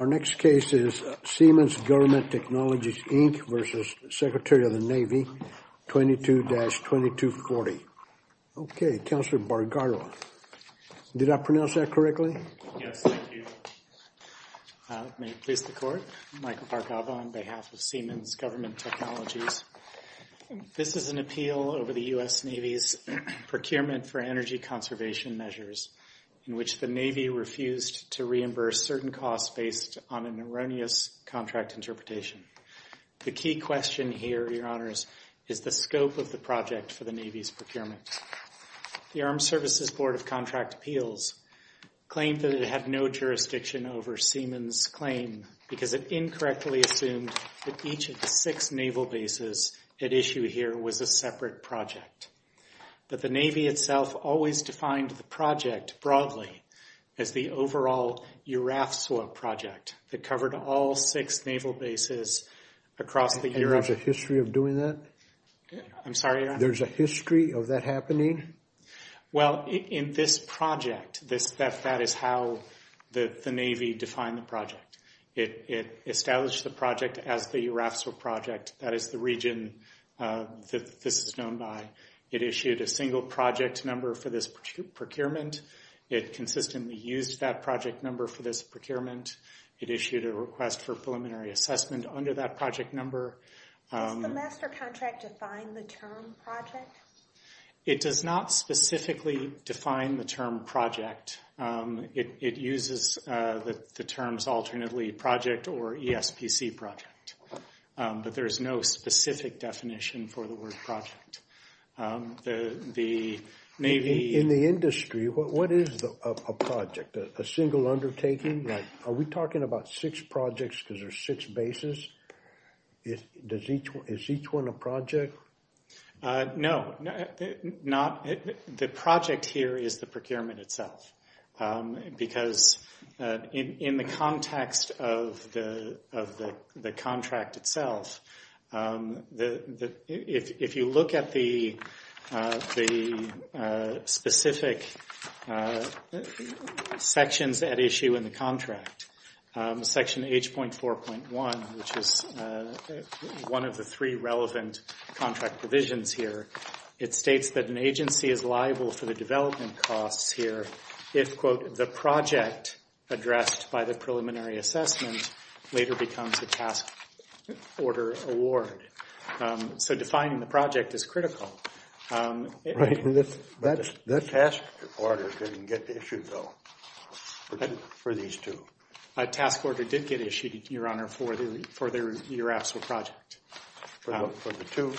Our next case is Siemens Government Technologies, Inc. v. Secretary of the Navy, 22-2240. Okay, Counselor Bargaro. Did I pronounce that correctly? Yes, thank you. May it please the Court? Michael Bargaro on behalf of Siemens Government Technologies. This is an appeal over the U.S. Navy's procurement for energy conservation measures in which the Navy refused to reimburse certain costs based on an erroneous contract interpretation. The key question here, Your Honors, is the scope of the project for the Navy's procurement. The Armed Services Board of Contract Appeals claimed that it had no jurisdiction over Siemens' claim because it incorrectly assumed that each of the six naval bases at issue here was a separate project. But the Navy itself always defined the project broadly as the overall URAFSOA project that covered all six naval bases across the U.S. And there's a history of doing that? I'm sorry, Your Honor? There's a history of that happening? Well, in this project, that is how the Navy defined the project. It established the project as the URAFSOA project. That is the region that this is known by. It issued a single project number for this procurement. It consistently used that project number for this procurement. It issued a request for preliminary assessment under that project number. Does the master contract define the term project? It does not specifically define the term project. It uses the terms alternately project or ESPC project. But there is no specific definition for the word project. In the industry, what is a project? A single undertaking? Are we talking about six projects because there are six bases? Is each one a project? No. The project here is the procurement itself. Because in the context of the contract itself, if you look at the specific sections at issue in the contract, section H.4.1, which is one of the three relevant contract provisions here, it states that an agency is liable for the development costs here if, quote, the project addressed by the preliminary assessment later becomes a task order award. So defining the project is critical. That task order didn't get issued, though, for these two. A task order did get issued, Your Honor, for the URAFSO project. For the two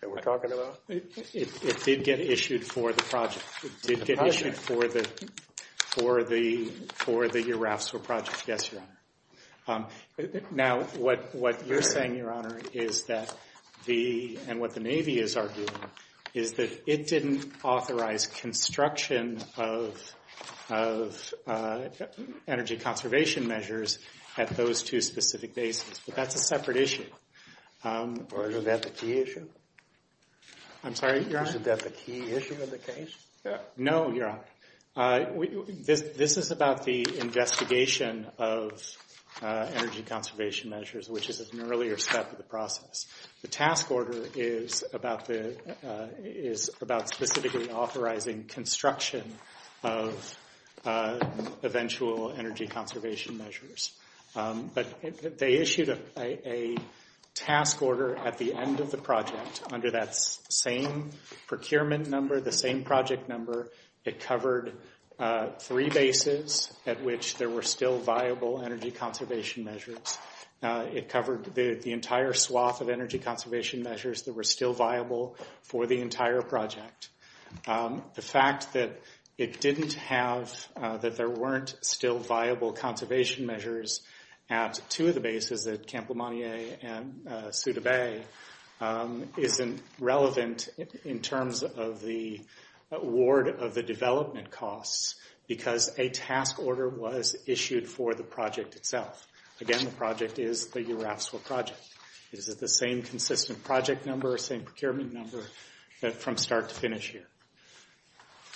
that we're talking about? It did get issued for the project. It did get issued for the URAFSO project, yes, Your Honor. Now, what you're saying, Your Honor, and what the Navy is arguing, is that it didn't authorize construction of energy conservation measures at those two specific bases. But that's a separate issue. Or is that the key issue? I'm sorry, Your Honor? Is that the key issue of the case? No, Your Honor. This is about the investigation of energy conservation measures, which is an earlier step of the process. The task order is about specifically authorizing construction of eventual energy conservation measures. But they issued a task order at the end of the project under that same procurement number, the same project number. It covered three bases at which there were still viable energy conservation measures. It covered the entire swath of energy conservation measures that were still viable for the entire project. The fact that it didn't have, that there weren't still viable conservation measures at two of the bases, at Camp Lemontier and Souda Bay, isn't relevant in terms of the award of the development costs, because a task order was issued for the project itself. Again, the project is the URAFSO project. It is the same consistent project number, same procurement number, from start to finish here.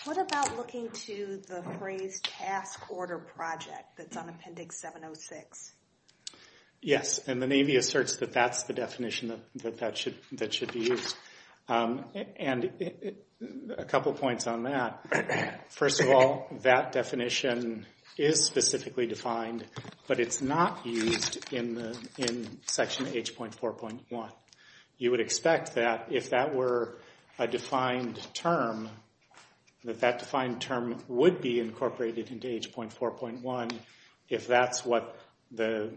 What about looking to the phrase task order project that's on Appendix 706? Yes, and the Navy asserts that that's the definition that should be used. And a couple points on that. First of all, that definition is specifically defined, but it's not used in Section H.4.1. You would expect that if that were a defined term, that that defined term would be incorporated into H.4.1 if that's what the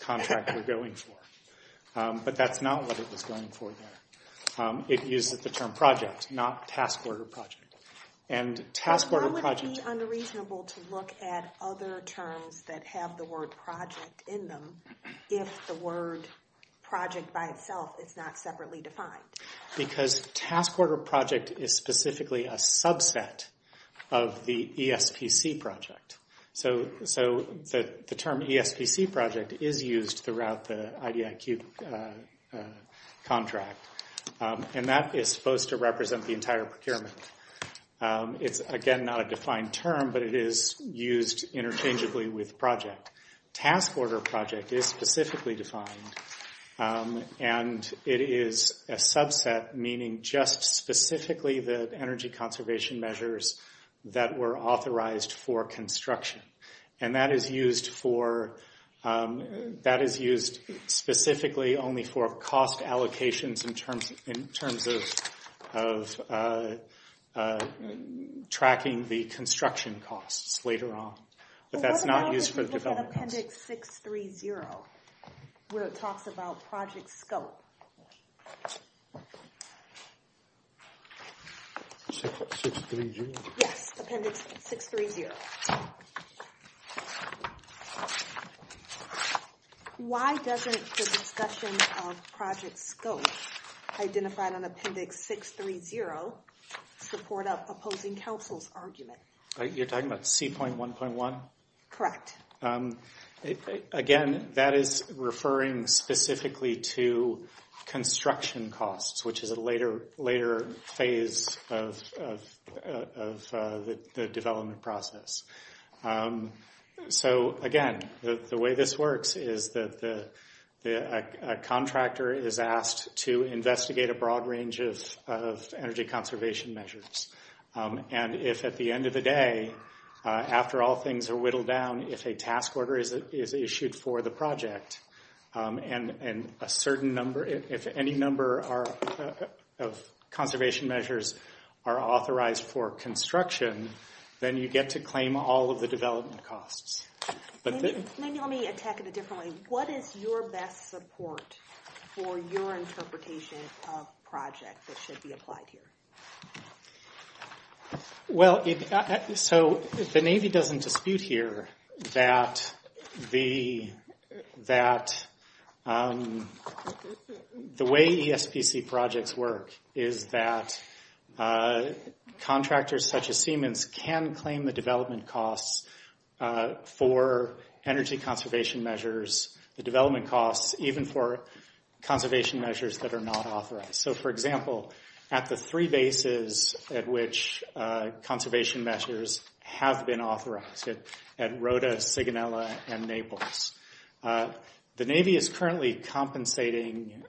contract we're going for. But that's not what it was going for there. It uses the term project, not task order project. Why would it be unreasonable to look at other terms that have the word project in them if the word project by itself is not separately defined? Because task order project is specifically a subset of the ESPC project. So the term ESPC project is used throughout the IDIQ contract, and that is supposed to represent the entire procurement. It's, again, not a defined term, but it is used interchangeably with project. Task order project is specifically defined, and it is a subset, meaning just specifically the energy conservation measures that were authorized for construction. And that is used specifically only for cost allocations in terms of tracking the construction costs later on. But that's not used for development costs. What about Appendix 630, where it talks about project scope? 630? Yes, Appendix 630. Why doesn't the discussion of project scope identified on Appendix 630 support an opposing counsel's argument? You're talking about C.1.1? Correct. Again, that is referring specifically to construction costs, which is a later phase of the development process. So, again, the way this works is that a contractor is asked to investigate a broad range of energy conservation measures. And if at the end of the day, after all things are whittled down, if a task order is issued for the project, and a certain number, if any number of conservation measures are authorized for construction, then you get to claim all of the development costs. Maybe let me attack it a different way. What is your best support for your interpretation of projects that should be applied here? Well, so the Navy doesn't dispute here that the way ESPC projects work is that contractors such as Siemens can claim the development costs for energy conservation measures, the development costs even for conservation measures that are not authorized. So, for example, at the three bases at which conservation measures have been authorized, at Rhoda, Sigonella, and Naples, the Navy is currently compensating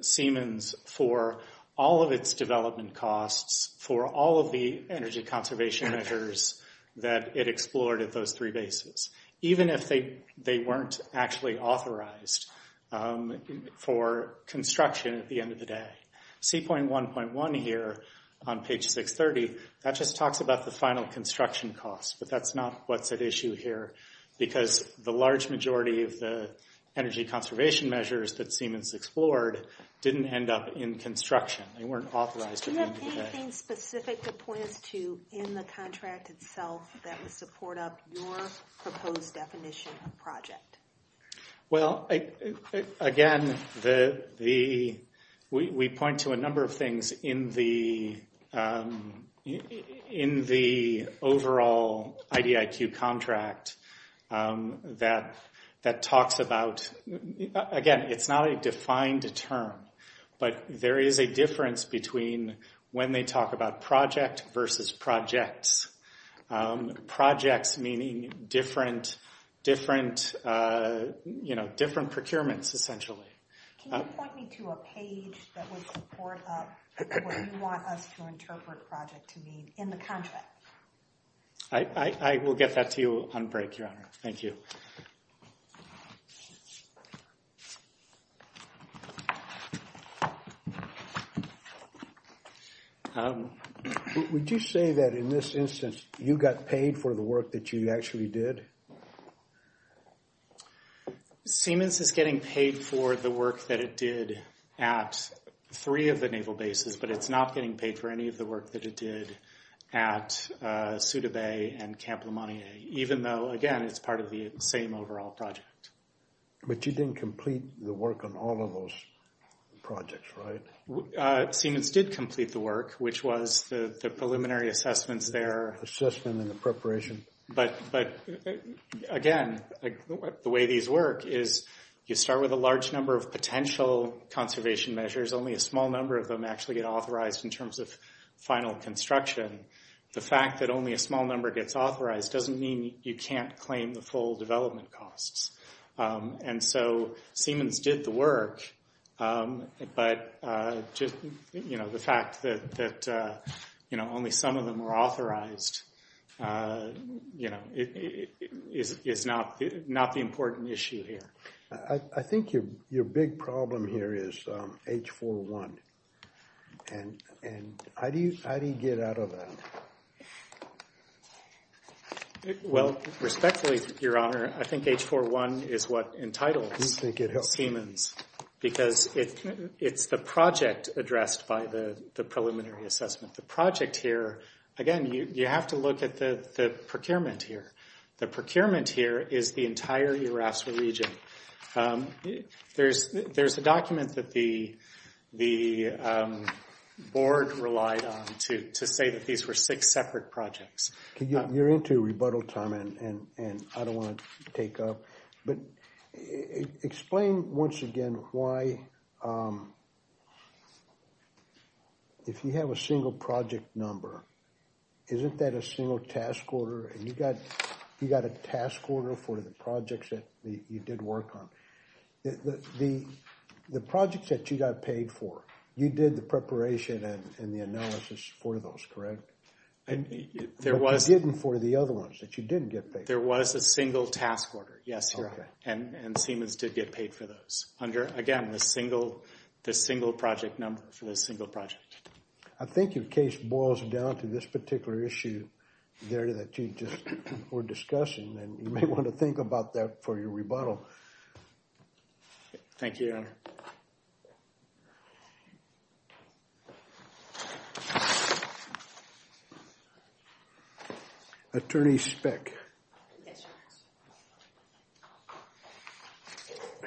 Siemens for all of its development costs for all of the energy conservation measures that it explored at those three bases, even if they weren't actually authorized for construction at the end of the day. C.1.1 here on page 630, that just talks about the final construction costs, but that's not what's at issue here, because the large majority of the energy conservation measures that Siemens explored didn't end up in construction. They weren't authorized at the end of the day. Do you have anything specific to point us to in the contract itself that would support up your proposed definition of project? Well, again, we point to a number of things in the overall IDIQ contract that talks about, again, it's not a defined term, but there is a difference between when they talk about project versus projects. Projects meaning different procurements, essentially. Can you point me to a page that would support up what you want us to interpret project to mean in the contract? I will get that to you on break, Your Honor. Thank you. Would you say that in this instance you got paid for the work that you actually did? Siemens is getting paid for the work that it did at three of the naval bases, but it's not getting paid for any of the work that it did at Ceuta Bay and Camp Lemontier, even though, again, it's part of the same overall project. But you didn't complete the work on all of those projects, right? Siemens did complete the work, which was the preliminary assessments there. Assessment and the preparation. But, again, the way these work is you start with a large number of potential conservation measures. Only a small number of them actually get authorized in terms of final construction. The fact that only a small number gets authorized doesn't mean you can't claim the full development costs. And so Siemens did the work, but the fact that only some of them were authorized is not the important issue here. I think your big problem here is H-401. And how do you get out of that? Well, respectfully, Your Honor, I think H-401 is what entitles Siemens, because it's the project addressed by the preliminary assessment. The project here, again, you have to look at the procurement here. The procurement here is the entire Urasa region. There's a document that the board relied on to say that these were six separate projects. You're into rebuttal time, and I don't want to take up. But explain once again why, if you have a single project number, isn't that a single task order? And you got a task order for the projects that you did work on. The projects that you got paid for, you did the preparation and the analysis for those, correct? But you didn't for the other ones that you didn't get paid for. There was a single task order, yes, Your Honor. And Siemens did get paid for those under, again, the single project number for the single project. I think your case boils down to this particular issue there that you just were discussing, and you may want to think about that for your rebuttal. Thank you, Your Honor. Attorney Speck. Yes,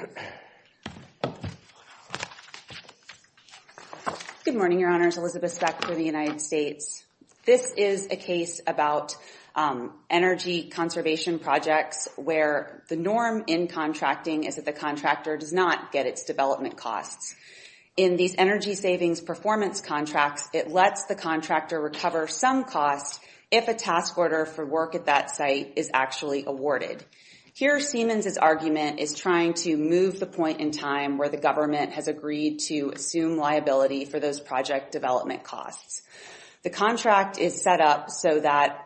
Your Honor. Good morning, Your Honors. Elizabeth Speck for the United States. This is a case about energy conservation projects where the norm in contracting is that the contractor does not get its development costs. In these energy savings performance contracts, it lets the contractor recover some costs if a task order for work at that site is actually awarded. Here, Siemens's argument is trying to move the point in time where the government has agreed to assume liability for those project development costs. The contract is set up so that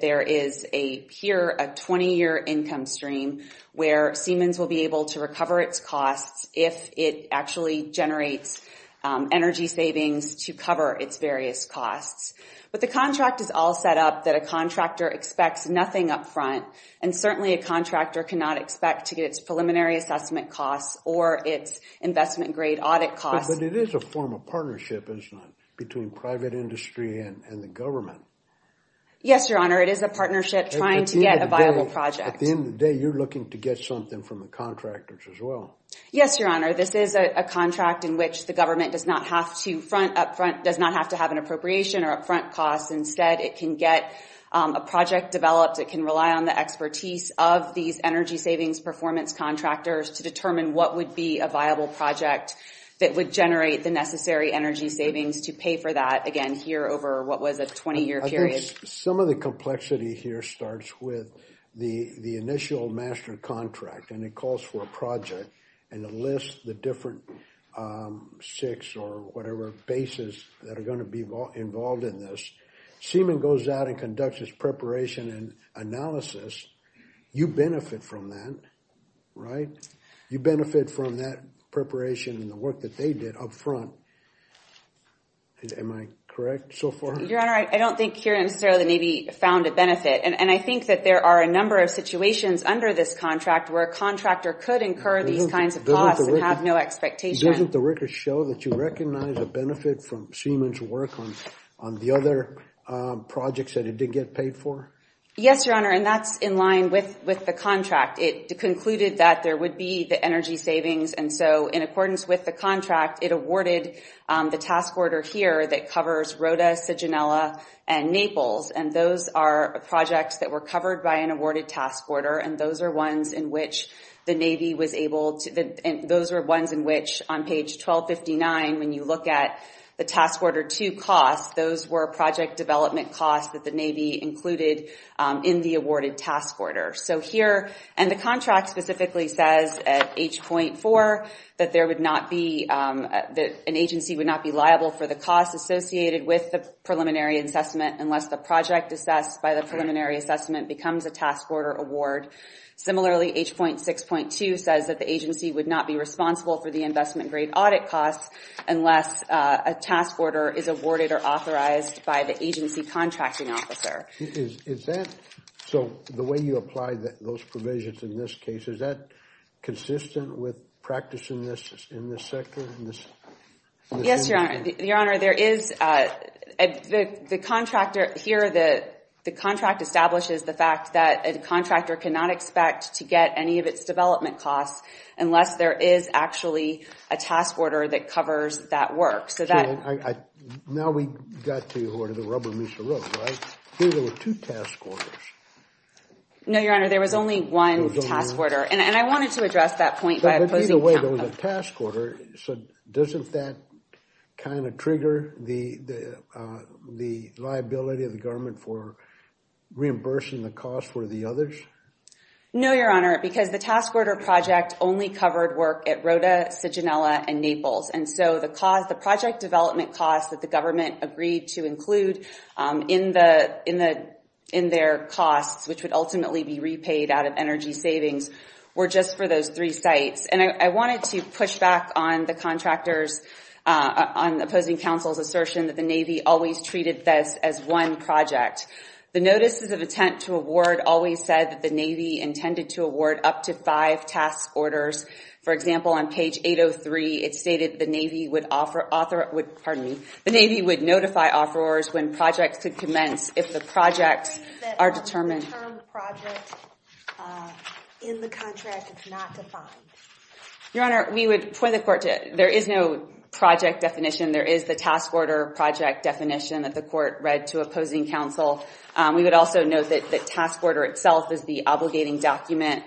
there is a, here, a 20-year income stream where Siemens will be able to recover its costs if it actually generates energy savings to cover its various costs. But the contract is all set up that a contractor expects nothing up front, and certainly a contractor cannot expect to get its preliminary assessment costs or its investment-grade audit costs. But it is a form of partnership, isn't it, between private industry and the government? Yes, Your Honor. It is a partnership trying to get a viable project. At the end of the day, you're looking to get something from the contractors as well. Yes, Your Honor. This is a contract in which the government does not have to front up front, does not have to have an appropriation or upfront costs. Instead, it can get a project developed. It can rely on the expertise of these energy savings performance contractors to determine what would be a viable project that would generate the necessary energy savings to pay for that, again, here over what was a 20-year period. Some of the complexity here starts with the initial master contract, and it calls for a project, and it lists the different six or whatever bases that are going to be involved in this. Siemen goes out and conducts its preparation and analysis. You benefit from that, right? You benefit from that preparation and the work that they did up front. Am I correct so far? Your Honor, I don't think here necessarily the Navy found a benefit, and I think that there are a number of situations under this contract where a contractor could incur these kinds of costs and have no expectation. Doesn't the record show that you recognize a benefit from Siemen's work on the other projects that it did get paid for? Yes, Your Honor, and that's in line with the contract. It concluded that there would be the energy savings, and so in accordance with the contract, it awarded the task order here that covers Rota, Cigenela, and Naples, and those are projects that were covered by an awarded task order, and those are ones in which the Navy was able to, and those are ones in which on page 1259 when you look at the task order 2 costs, those were project development costs that the Navy included in the awarded task order. So here, and the contract specifically says at H.4 that there would not be, that an agency would not be liable for the costs associated with the preliminary assessment unless the project assessed by the preliminary assessment becomes a task order award. Similarly, H.6.2 says that the agency would not be responsible for the investment grade audit costs unless a task order is awarded or authorized by the agency contracting officer. Is that, so the way you apply those provisions in this case, is that consistent with practice in this sector? Yes, Your Honor. Your Honor, there is, the contractor here, the contract establishes the fact that a contractor cannot expect to get any of its development costs unless there is actually a task order that covers that work. Now we got to the rubber meets the road, right? Here there were two task orders. No, Your Honor, there was only one task order, and I wanted to address that point by opposing— By the way, there was a task order. So doesn't that kind of trigger the liability of the government for reimbursing the cost for the others? No, Your Honor, because the task order project only covered work at Rota, Cigenela, and Naples. And so the project development costs that the government agreed to include in their costs, which would ultimately be repaid out of energy savings, were just for those three sites. And I wanted to push back on the contractors— on opposing counsel's assertion that the Navy always treated this as one project. The notices of intent to award always said that the Navy intended to award up to five task orders. For example, on page 803, it stated the Navy would notify offerors when projects could commence if the projects are determined— What is the term project in the contract that's not defined? Your Honor, we would point the court to it. There is no project definition. There is the task order project definition that the court read to opposing counsel. We would also note that the task order itself is the obligating document.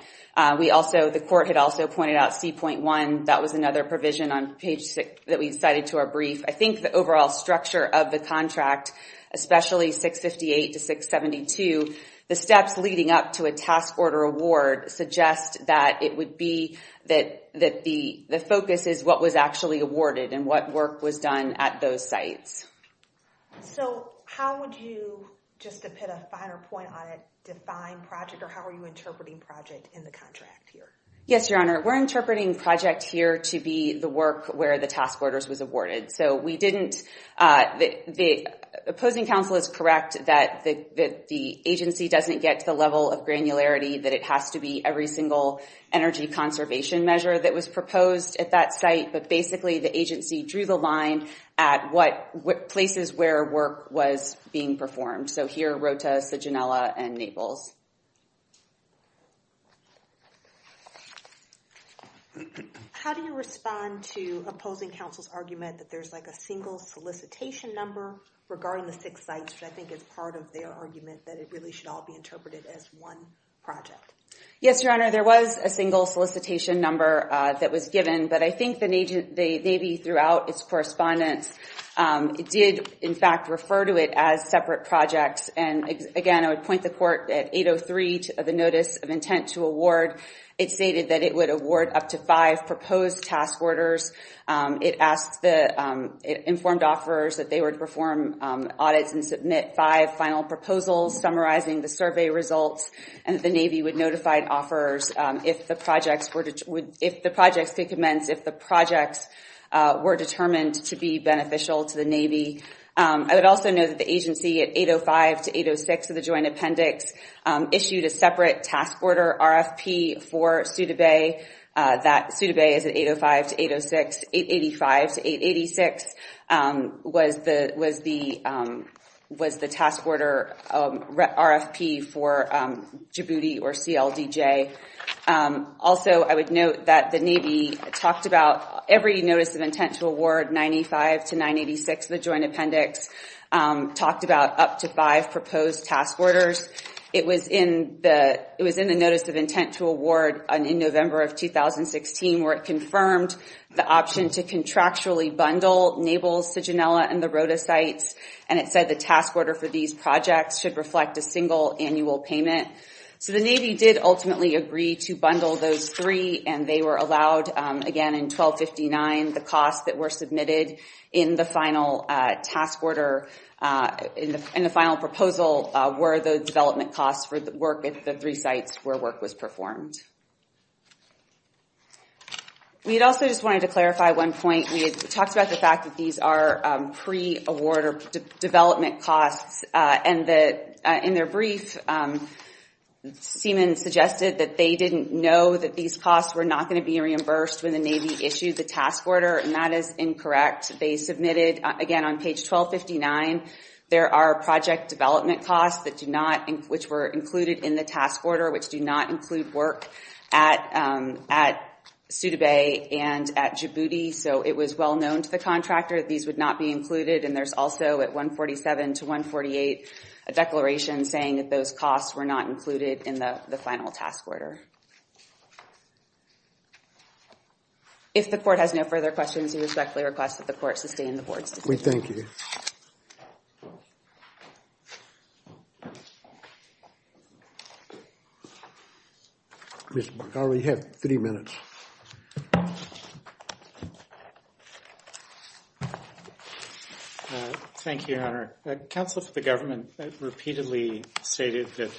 We also—the court had also pointed out C.1. That was another provision on page 6 that we cited to our brief. I think the overall structure of the contract, especially 658 to 672, the steps leading up to a task order award suggest that it would be— that the focus is what was actually awarded and what work was done at those sites. So how would you, just to put a finer point on it, define project? Or how are you interpreting project in the contract here? Yes, Your Honor. We're interpreting project here to be the work where the task orders was awarded. So we didn't—the opposing counsel is correct that the agency doesn't get to the level of granularity, that it has to be every single energy conservation measure that was proposed at that site. But basically, the agency drew the line at places where work was being performed. So here, Rota, Cigenela, and Naples. How do you respond to opposing counsel's argument that there's like a single solicitation number regarding the six sites, which I think is part of their argument that it really should all be interpreted as one project? Yes, Your Honor. There was a single solicitation number that was given. But I think the Navy, throughout its correspondence, did, in fact, refer to it as separate projects. And, again, I would point the court at 803, the notice of intent to award. It stated that it would award up to five proposed task orders. It asked the informed offerors that they would perform audits and submit five final proposals, summarizing the survey results, and that the Navy would notify offerors if the projects could commence, if the projects were determined to be beneficial to the Navy. I would also note that the agency, at 805 to 806 of the joint appendix, issued a separate task order RFP for Suda Bay. That Suda Bay is at 805 to 806. 885 to 886 was the task order RFP for Djibouti or CLDJ. Also, I would note that the Navy talked about every notice of intent to award, 905 to 986 of the joint appendix, talked about up to five proposed task orders. It was in the notice of intent to award in November of 2016, where it confirmed the option to contractually bundle Naples, Sijinela, and the Rota sites. And it said the task order for these projects should reflect a single annual payment. So the Navy did ultimately agree to bundle those three, and they were allowed, again, in 1259, the costs that were submitted in the final task order, in the final proposal, were the development costs for the work at the three sites where work was performed. We also just wanted to clarify one point. We had talked about the fact that these are pre-award or development costs, and in their brief, Seaman suggested that they didn't know that these costs were not going to be reimbursed when the Navy issued the task order, and that is incorrect. They submitted, again, on page 1259, there are project development costs that do not, which were included in the task order, which do not include work at Suda Bay and at Djibouti. So it was well known to the contractor that these would not be included, and there's also at 147 to 148 a declaration saying that those costs were not included in the final task order. If the court has no further questions, we respectfully request that the court sustain the board's decision. We thank you. Thank you. Mr. McGarvey, you have 30 minutes. Thank you, Your Honor. Counsel for the government repeatedly stated that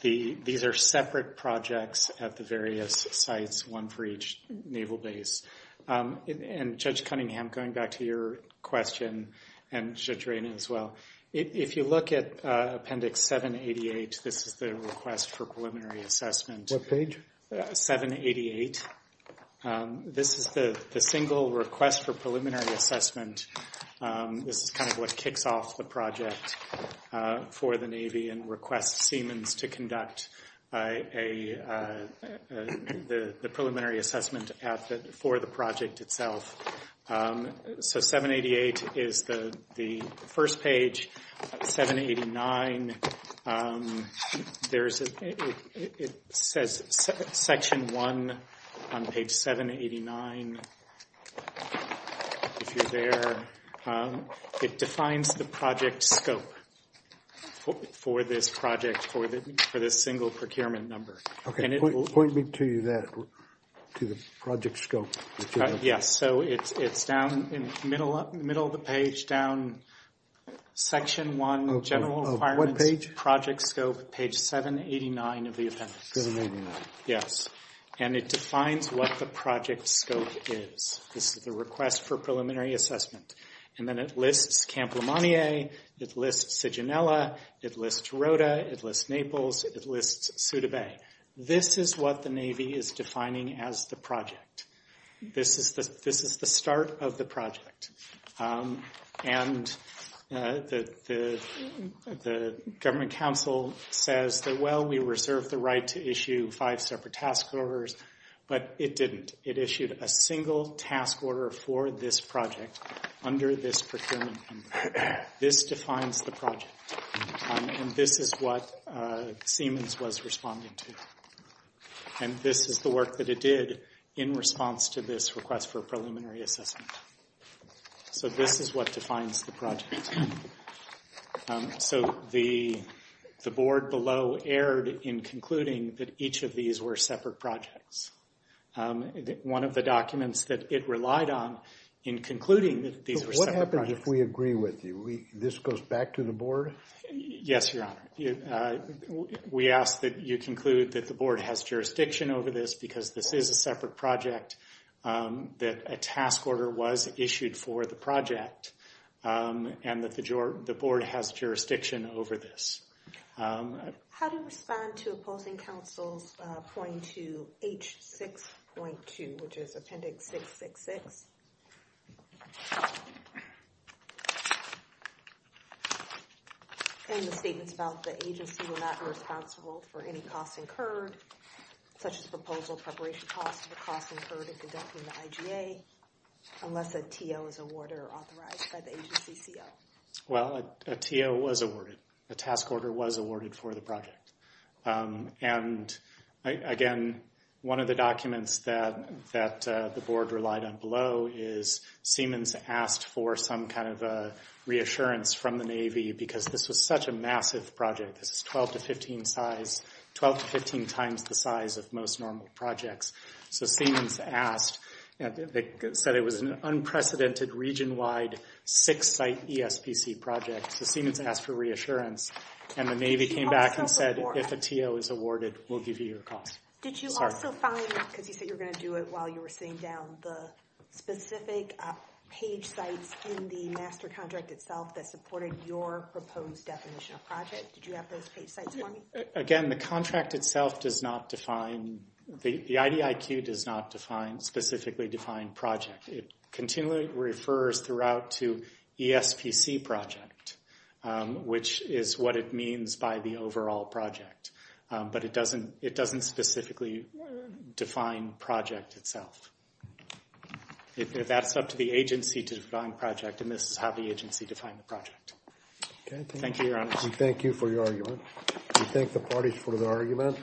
these are separate projects at the various sites, one for each Naval base. And Judge Cunningham, going back to your question, and Judge Rayna as well, if you look at Appendix 788, this is the request for preliminary assessment. What page? 788. This is the single request for preliminary assessment. This is kind of what kicks off the project for the Navy and requests Seamans to conduct the preliminary assessment for the project itself. So 788 is the first page. 789, it says Section 1 on page 789, if you're there. It defines the project scope for this project, for this single procurement number. Okay, point me to that, to the project scope. Yes, so it's down in the middle of the page, down Section 1, general requirements, project scope, page 789 of the appendix. 789. Yes. And it defines what the project scope is. This is the request for preliminary assessment. And then it lists Camp Lemontier. It lists Siginella. It lists Rhoda. It lists Naples. It lists Souda Bay. This is what the Navy is defining as the project. This is the start of the project. And the Government Council says that, well, we reserve the right to issue five separate task orders. But it didn't. It issued a single task order for this project under this procurement number. This defines the project. And this is what Siemens was responding to. And this is the work that it did in response to this request for preliminary assessment. So this is what defines the project. So the board below erred in concluding that each of these were separate projects. One of the documents that it relied on in concluding that these were separate projects. What happens if we agree with you? This goes back to the board? Yes, Your Honor. We ask that you conclude that the board has jurisdiction over this because this is a separate project, that a task order was issued for the project, and that the board has jurisdiction over this. How do you respond to opposing counsels pointing to H6.2, which is Appendix 666? And the statements about the agency will not be responsible for any costs incurred, such as proposal preparation costs, or costs incurred in conducting the IGA, unless a TO is awarded or authorized by the agency CO. Well, a TO was awarded. A task order was awarded for the project. And, again, one of the documents that the board relied on below, is Siemens asked for some kind of reassurance from the Navy because this was such a massive project. This is 12 to 15 times the size of most normal projects. So Siemens asked. They said it was an unprecedented, region-wide, six-site ESPC project. So Siemens asked for reassurance, and the Navy came back and said, if a TO is awarded, we'll give you your costs. Did you also find, because you said you were going to do it while you were sitting down, the specific page sites in the master contract itself that supported your proposed definition of project? Did you have those page sites for me? Again, the contract itself does not define, the IDIQ does not specifically define project. It continually refers throughout to ESPC project, which is what it means by the overall project. But it doesn't specifically define project itself. That's up to the agency to define project, and this is how the agency defined the project. Thank you, Your Honor. We thank you for your argument. We thank the parties for their argument.